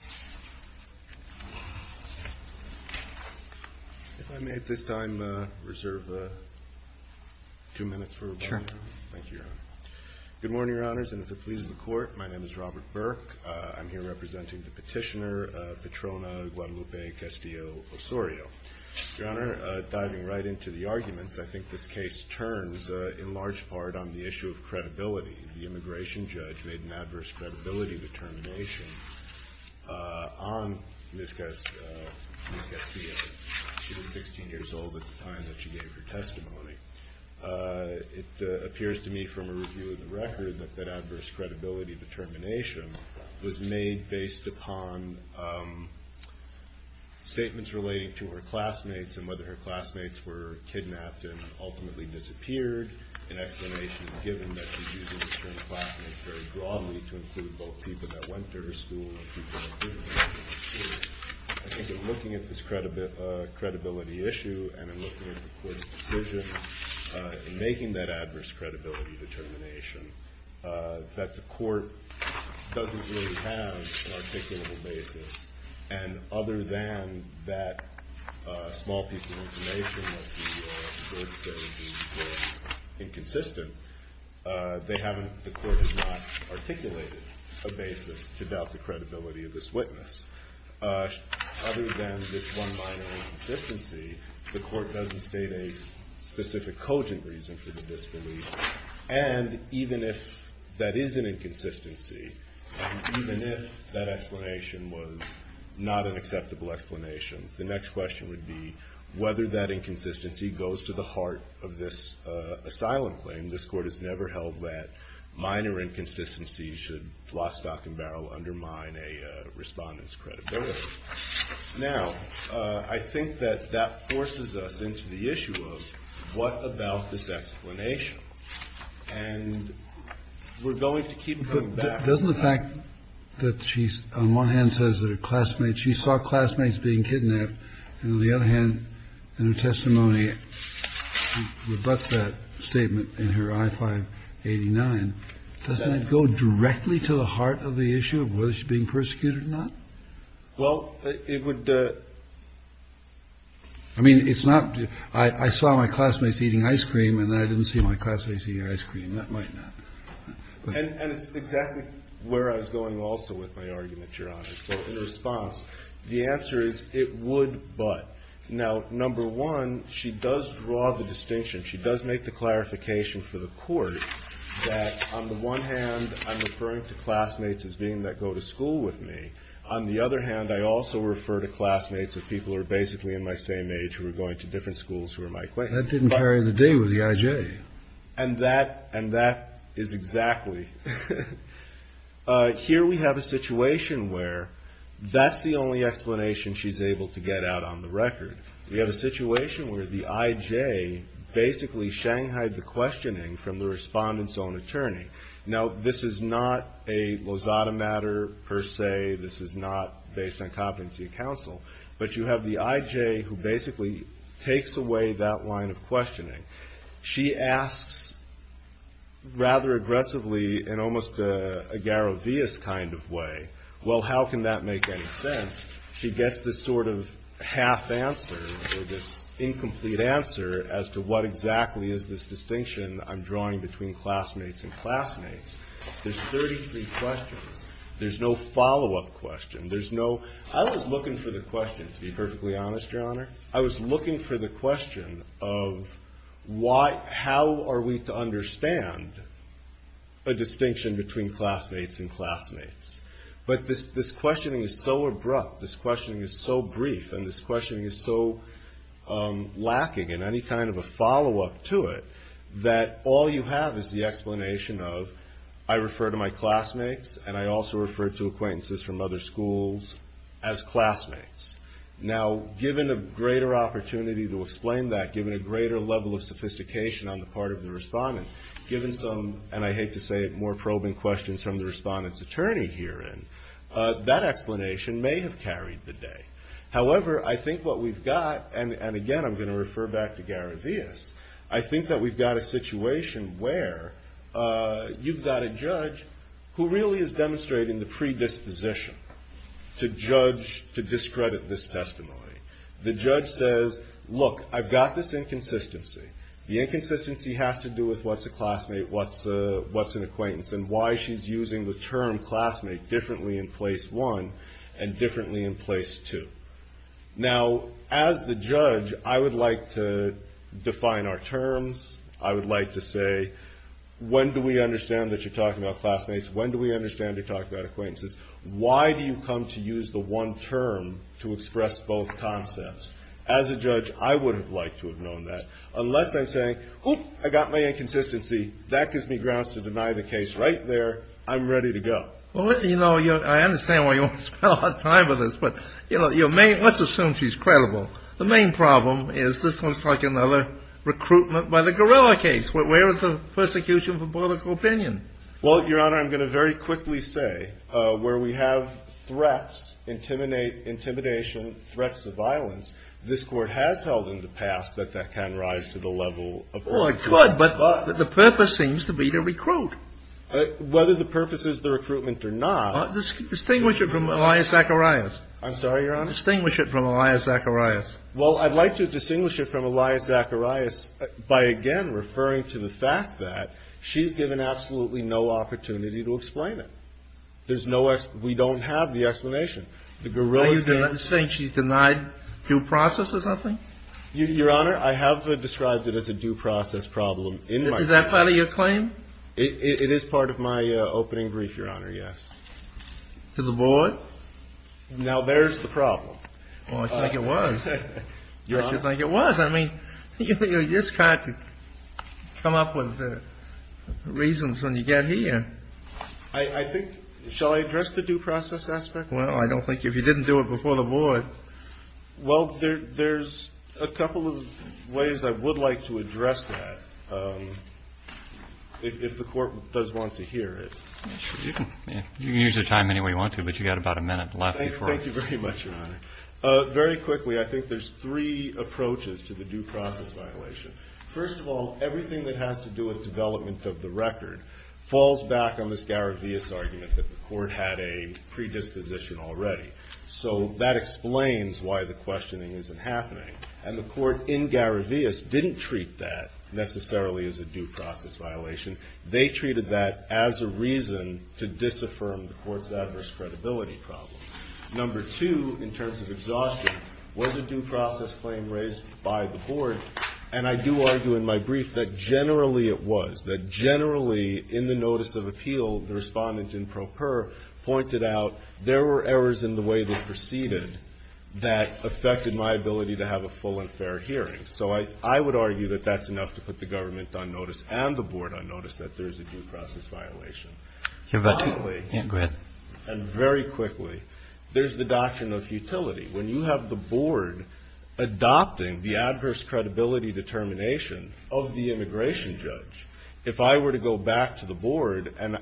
Good morning, Your Honors, and if it pleases the Court, my name is Robert Burke. I'm here representing the Petitioner, Petrona Guadalupe Castillo-Osorio. Your Honor, diving right into the arguments, I think this case turns in large part on the issue of credibility. The on Ms. Castillo. She was 16 years old at the time that she gave her testimony. It appears to me from a review of the record that that adverse credibility determination was made based upon statements relating to her classmates and whether her classmates were kidnapped and ultimately disappeared. An explanation is given that she uses the term classmates very broadly to include both people that went to her school and people that didn't. I think in looking at this credibility issue and in looking at the Court's decision in making that adverse credibility determination, that the Court doesn't really have an articulable basis. And other than that small piece of information that the Court says is inconsistent, they haven't, the Court has not articulated a basis to doubt the credibility of this witness. Other than this one minor inconsistency, the Court doesn't state a specific cogent reason for the disbelief. And even if that is an inconsistency, even if that explanation was not an acceptable explanation, the next question would be whether that inconsistency goes to the court. This Court has never held that minor inconsistencies should lost stock and barrel undermine a respondent's credibility. Now, I think that that forces us into the issue of what about this explanation? And we're going to keep coming back. But doesn't the fact that she's on one hand says that her classmates, she saw classmates being kidnapped, and on the other hand, in her testimony, rebuts that statement in her I-589, doesn't it go directly to the heart of the issue of whether she's being persecuted or not? Well, it would, I mean, it's not, I saw my classmates eating ice cream and then I didn't see my classmates eating ice cream. That might not. And it's exactly where I was going also with my argument, Your Honor. So in response, the answer is it would, but. Now, number one, she does draw the distinction, she does make the clarification for the Court that on the one hand, I'm referring to classmates as being that go to school with me. On the other hand, I also refer to classmates as people who are basically in my same age who are going to different schools who are my acquaintance. That didn't vary the day with the I.J. And that is exactly, here we have a situation where that's the only explanation she's able to get out on the record. We have a situation where the I.J. basically shanghaied the questioning from the respondent's own attorney. Now, this is not a Lozada matter, per se, this is not based on competency of counsel, but you have the I.J. who basically takes away that line of questioning. She asks rather aggressively, in almost a Garovias kind of way, well, how can that make any sense? She gets this sort of half answer, this incomplete answer as to what exactly is this distinction I'm drawing between classmates and classmates. There's 33 questions. There's no follow-up question. There's no, I was looking for the question, to be perfectly honest, Your Honor, I was looking for the question of how are we to understand a distinction between classmates and classmates? But this questioning is so abrupt, this questioning is so brief, and this questioning is so lacking in any kind of a follow-up to it that all you have is the explanation of I refer to my classmates and I also refer to acquaintances from other schools as classmates. Now, given a greater opportunity to explain that, given a greater level of sophistication on the part of the respondent, given some, and I hate to say it, more probing questions from the respondent's attorney herein, that explanation may have carried the day. However, I think what we've got, and again, I'm going to refer back to Garovias, I think that we've got a situation where you've got a judge who really is demonstrating the predisposition to judge, to discredit this testimony. The judge says, look, I've got this inconsistency. The inconsistency has to do with what's a classmate, what's an acquaintance, and why she's using the term classmate differently in place one and differently in place two. Now, as the judge, I would like to define our terms. I would like to say, when do we understand that you're talking about classmates? When do we understand you're talking about acquaintances? Why do you come to use the one term to express both concepts? As a judge, I would have liked to have known that. Unless I'm saying, oop, I got my inconsistency. That gives me grounds to deny the case right there. I'm ready to go. Well, you know, I understand why you want to spend a lot of time on this, but let's assume she's credible. The main problem is this looks like another recruitment by the gorilla case. Where is the persecution for political opinion? Well, Your Honor, I'm going to very quickly say, where we have threats, intimidation, threats of violence, this Court has held in the past that that can rise to the level of what it could. But the purpose seems to be to recruit. Whether the purpose is the recruitment or not. Distinguish it from Elias Zacharias. I'm sorry, Your Honor? Distinguish it from Elias Zacharias. Well, I'd like to distinguish it from Elias Zacharias by, again, referring to the fact that she's given absolutely no opportunity to explain it. There's no, we don't have the explanation. The gorilla case. Are you saying she's denied due process or something? Your Honor, I have described it as a due process problem. Is that part of your claim? It is part of my opening brief, Your Honor, yes. To the board? Now there's the problem. Well, I think it was. I think it was. I mean, you just have to come up with reasons when you get here. I think, shall I address the due process aspect? Well, I don't think, if you didn't do it before the board. Well, there's a couple of ways I would like to address that if the Court does want to hear it. You can use your time anyway you want to, but you've got about a minute left. Thank you very much, Your Honor. Very quickly, I think there's three approaches to the due process violation. First of all, everything that has to do with development of the record falls back on this Garavias argument that the Court had a predisposition already. So that explains why the questioning isn't happening. And the Court in Garavias didn't treat that necessarily as a due process violation. They treated that as a reason to disaffirm the Court's adverse credibility problem. Number two, in terms of exhaustion, was a due process claim raised by the board. And I do argue in my brief that generally it was. That generally, in the notice of appeal, the respondent in pro per pointed out there were errors in the way this proceeded that affected my ability to have a full and fair hearing. So I would argue that that's enough to put the government on notice and the board on notice that there's a due process violation. Finally, and very quickly, there's the doctrine of futility. When you have the board adopting the adverse credibility determination of the immigration judge, if I were to go back to the board and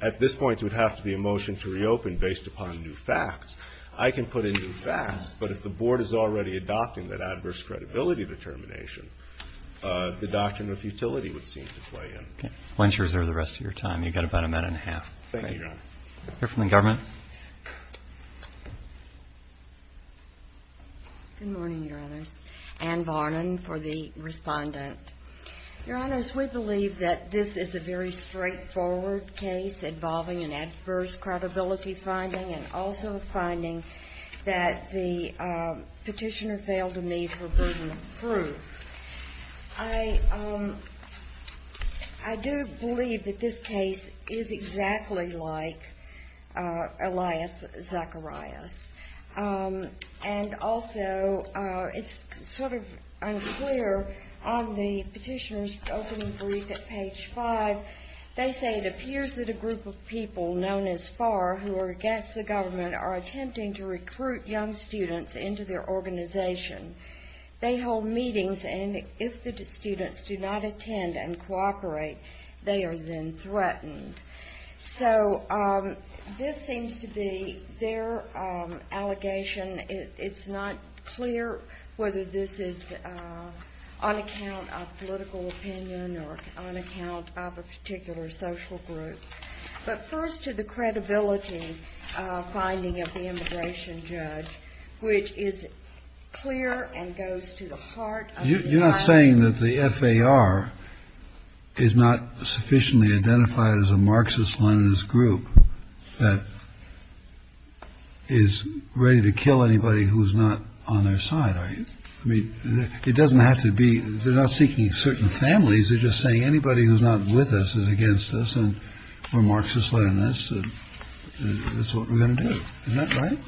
at this point there would have to be a motion to reopen based upon new facts, I can put in new facts. But if the board is already adopting that adverse credibility determination, the doctrine of futility would seem to play in. Okay. We'll ensure the rest of your time. You've got about a minute and a half. Thank you, Your Honor. Hear from the government? Good morning, Your Honors. Ann Varnon for the respondent. Your Honors, we believe that this is a very straightforward case involving an adverse credibility finding and also a finding that the petitioner failed to meet her burden of proof. I do believe that this case is exactly like Elias Zacharias. And also, it's sort of unclear on the petitioner's opening brief at page five, they say it appears that a group of people known as FAR who are against the government are attempting to recruit young students into their organization. They hold meetings and if the students do not attend and cooperate, they are then threatened. So this seems to be their allegation. It's not clear whether this is on account of political opinion or on account of particular social group. But first to the credibility finding of the immigration judge, which is clear and goes to the heart. You're not saying that the FAR is not sufficiently identified as a Marxist Leninist group that is ready to kill anybody who is not on their side, are you? I mean, it doesn't have to be. They're not seeking certain families. They're just saying anybody who's not with us is against us and we're Marxist Leninists and that's what we're going to do. Is that right?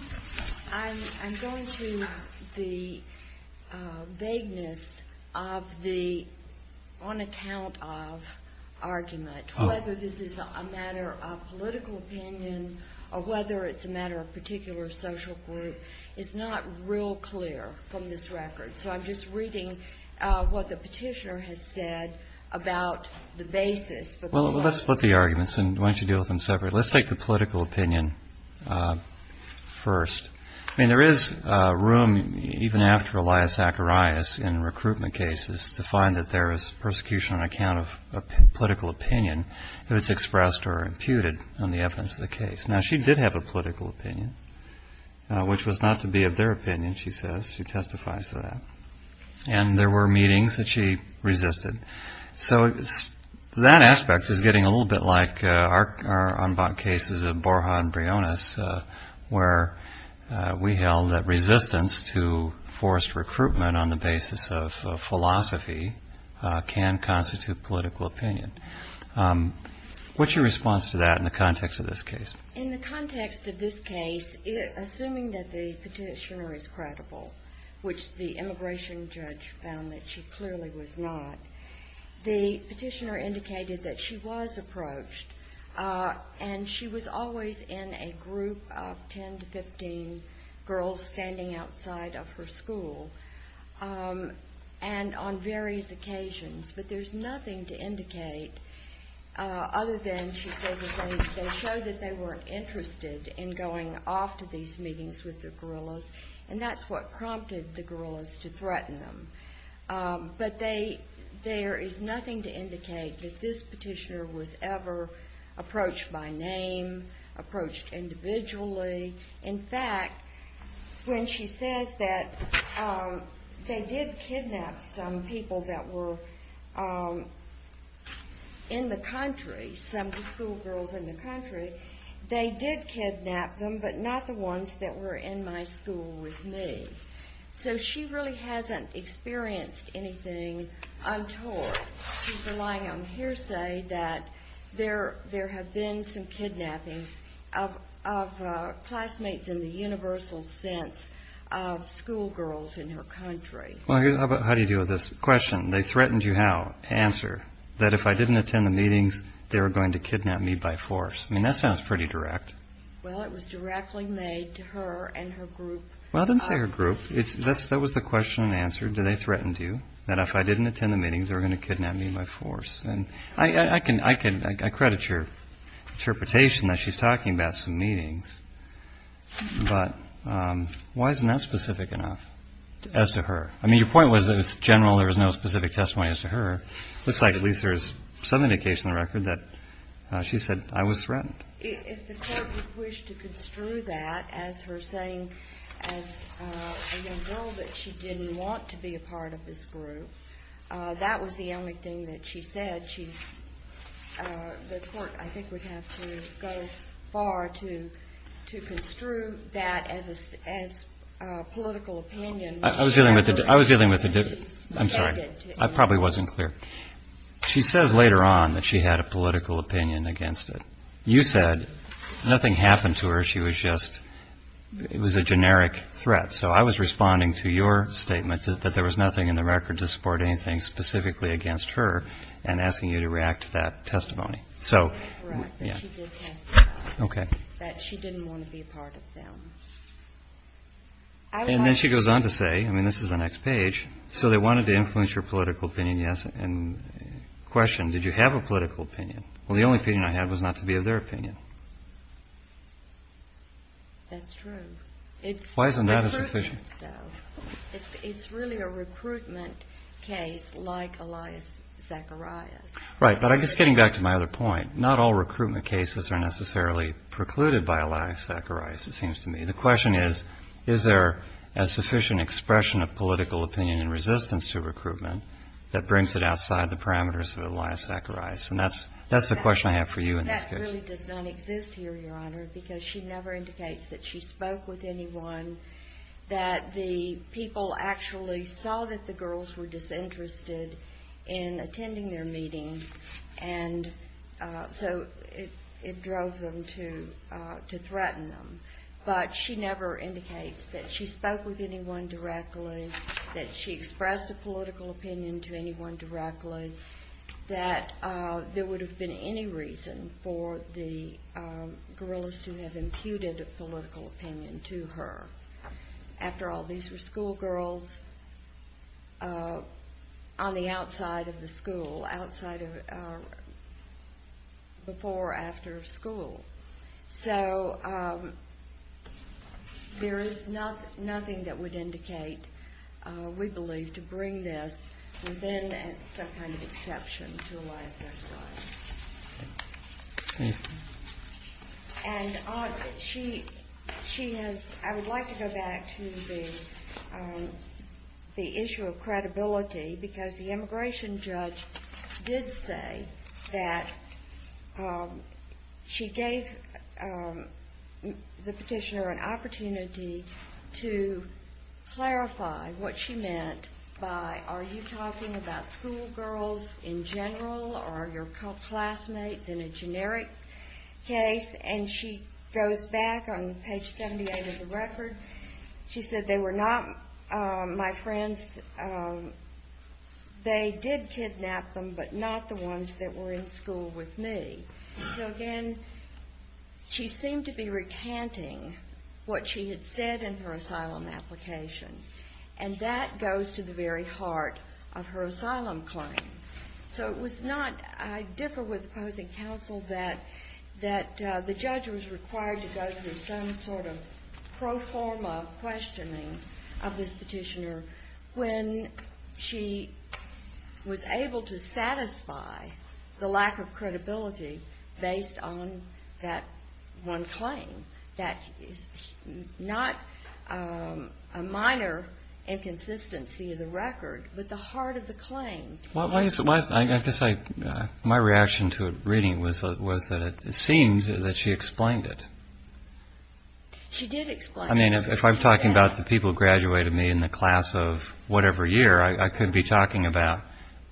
I'm going to the vagueness of the on account of argument, whether this is a matter of political opinion or whether it's a matter of particular social group. It's not real clear from this record. So I'm just reading what the petitioner has said about the basis. Well, let's split the arguments and why don't you deal with them separately. Let's take the political opinion first. I mean, there is room even after Elias Zacharias in recruitment cases to find that there is persecution on account of political opinion if it's expressed or imputed on the evidence of the case. Now, she did have a political opinion, which was not to be of their opinion, she says. She testifies to that. And there were meetings that she resisted. So that aspect is getting a little bit like our cases of Borja and Briones, where we held that resistance to forced recruitment on the basis of philosophy can constitute political opinion. What's your response to that in the context of this case? In the context of this case, assuming that the petitioner is credible, which the immigration judge found that she clearly was not, the petitioner indicated that she was approached and she was always in a group of 10 to 15 girls standing outside of her school and on various occasions. But there's nothing to indicate other than, they showed that they weren't interested in going off to these meetings with the gorillas, and that's what prompted the gorillas to threaten them. But there is nothing to indicate that this petitioner was ever approached by name, approached individually. In fact, when she says that they did kidnap some people that were in the country, some of the school girls in the country, they did kidnap them, but not the ones that were in my school with me. So she really hasn't experienced anything untoward. She's relying on hearsay that there have been some kidnappings of classmates in the universal sense of school girls in her country. Well, how do you deal with this question? They threatened you how? Answer, that if I didn't attend the meetings, they were going to kidnap me by force. I mean, that sounds pretty direct. Well, it was directly made to her and her group. Well, I didn't say her group. That was the question and answer. Did they threaten to you that if I didn't attend the meetings, they were going to kidnap me by force? And I credit your interpretation that she's talking about some meetings, but why isn't that specific enough as to her? I mean, your point was that it's general. There was no specific testimony as to her. It looks like at least there's some indication in the record that she said I was threatened. If the court would wish to construe that as her saying as a young girl that she didn't want to be a part of this group, that was the only thing that she said. The court, I think, would have to go far to construe that as a political opinion. I was dealing with the difference. I'm sorry. I probably wasn't clear. She says later on that she had a political opinion against it. You said nothing happened to her. She was just, it was a generic threat. So I was responding to your statement that there was nothing in you to react to that testimony. So yeah. Okay. That she didn't want to be a part of them. And then she goes on to say, I mean, this is the next page. So they wanted to influence your political opinion. Yes. And question, did you have a political opinion? Well, the only opinion I had was not to be of their opinion. That's true. Why isn't that a sufficient? It's really a recruitment case like Elias Zacharias. Right. But I guess getting back to my other point, not all recruitment cases are necessarily precluded by Elias Zacharias, it seems to me. The question is, is there a sufficient expression of political opinion and resistance to recruitment that brings it outside the parameters of Elias Zacharias? And that's, that's the question I have for you in this case. That really does not exist here, Your Honor, because she never indicates that she spoke with anyone, that the people actually saw that the girls were disinterested in attending their meeting. And so it drove them to, to threaten them. But she never indicates that she spoke with anyone directly, that she expressed a political opinion to anyone directly, that there would have been any reason for the guerrillas to have imputed a political opinion to her. After all, these were schoolgirls on the outside of the school, outside of, before or after school. So there is nothing that would indicate, we believe, to bring this within some kind of exception to Elias Zacharias. And she, she has, I would like to go back to the, the issue of credibility, because the immigration judge did say that she gave the petitioner an opportunity to clarify what she meant by, are you talking about schoolgirls in general, or are your classmates in a generic case? And she goes back on page 78 of the record. She said, they were not my friends. They did kidnap them, but not the ones that were in school with me. So again, she seemed to be recanting what she had said in her asylum application. And that goes to the very heart of her asylum claim. So it was not, I differ with opposing counsel that, that the judge was required to go through some sort of pro forma questioning of this petitioner when she was able to satisfy the lack of credibility based on that one claim. That is not a minor inconsistency of the record, but the heart of the claim. Well, I guess I, my reaction to reading was, was that it seems that she explained it. She did explain it. I mean, if I'm talking about the people who graduated me in the class of whatever year, I couldn't be talking about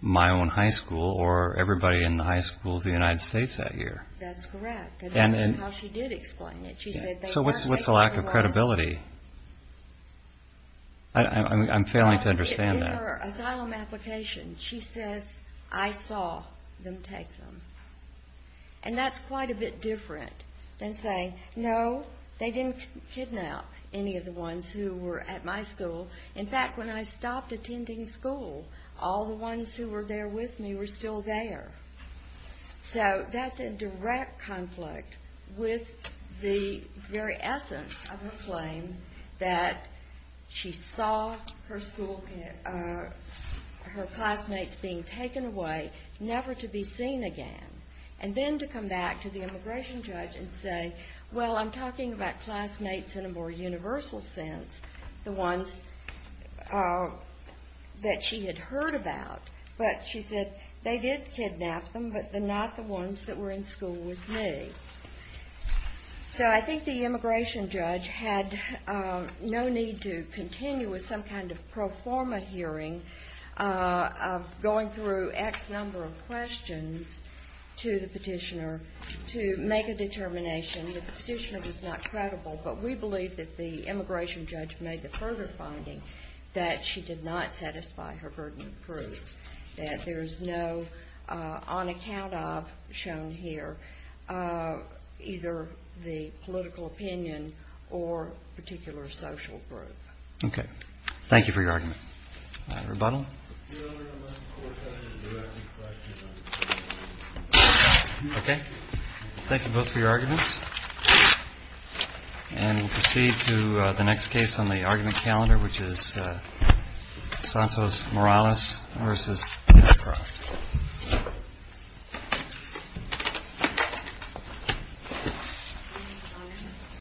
my own high school or everybody in the high schools of the United States that year. That's correct. That's how she did explain it. So what's the lack of credibility? I'm failing to understand that. In her asylum application, she says, I saw them take them. And that's quite a bit different than saying, no, they didn't kidnap any of the ones who were at my school. In fact, when I stopped attending school, all the ones who were there with me were still there. So that's a direct conflict with the very essence of her claim that she saw her school, her classmates being taken away, never to be seen again. And then to come back to the immigration judge and say, well, I'm talking about classmates in a more universal sense. The ones that she had heard about, but she said they did kidnap them, but they're not the ones that were in school with me. So I think the immigration judge had no need to continue with some kind of pro forma hearing of going through X number of questions to the petitioner to make a determination that the petitioner was not credible. But we believe that the immigration judge made the further finding that she did not satisfy her burden of proof, that there is no on account of, shown here, either the political opinion or particular social group. Okay. Thank you for your argument. Rebuttal. Okay. Thank you both for your arguments. And we'll proceed to the next case on the argument calendar, which is Santos Morales versus Petroff.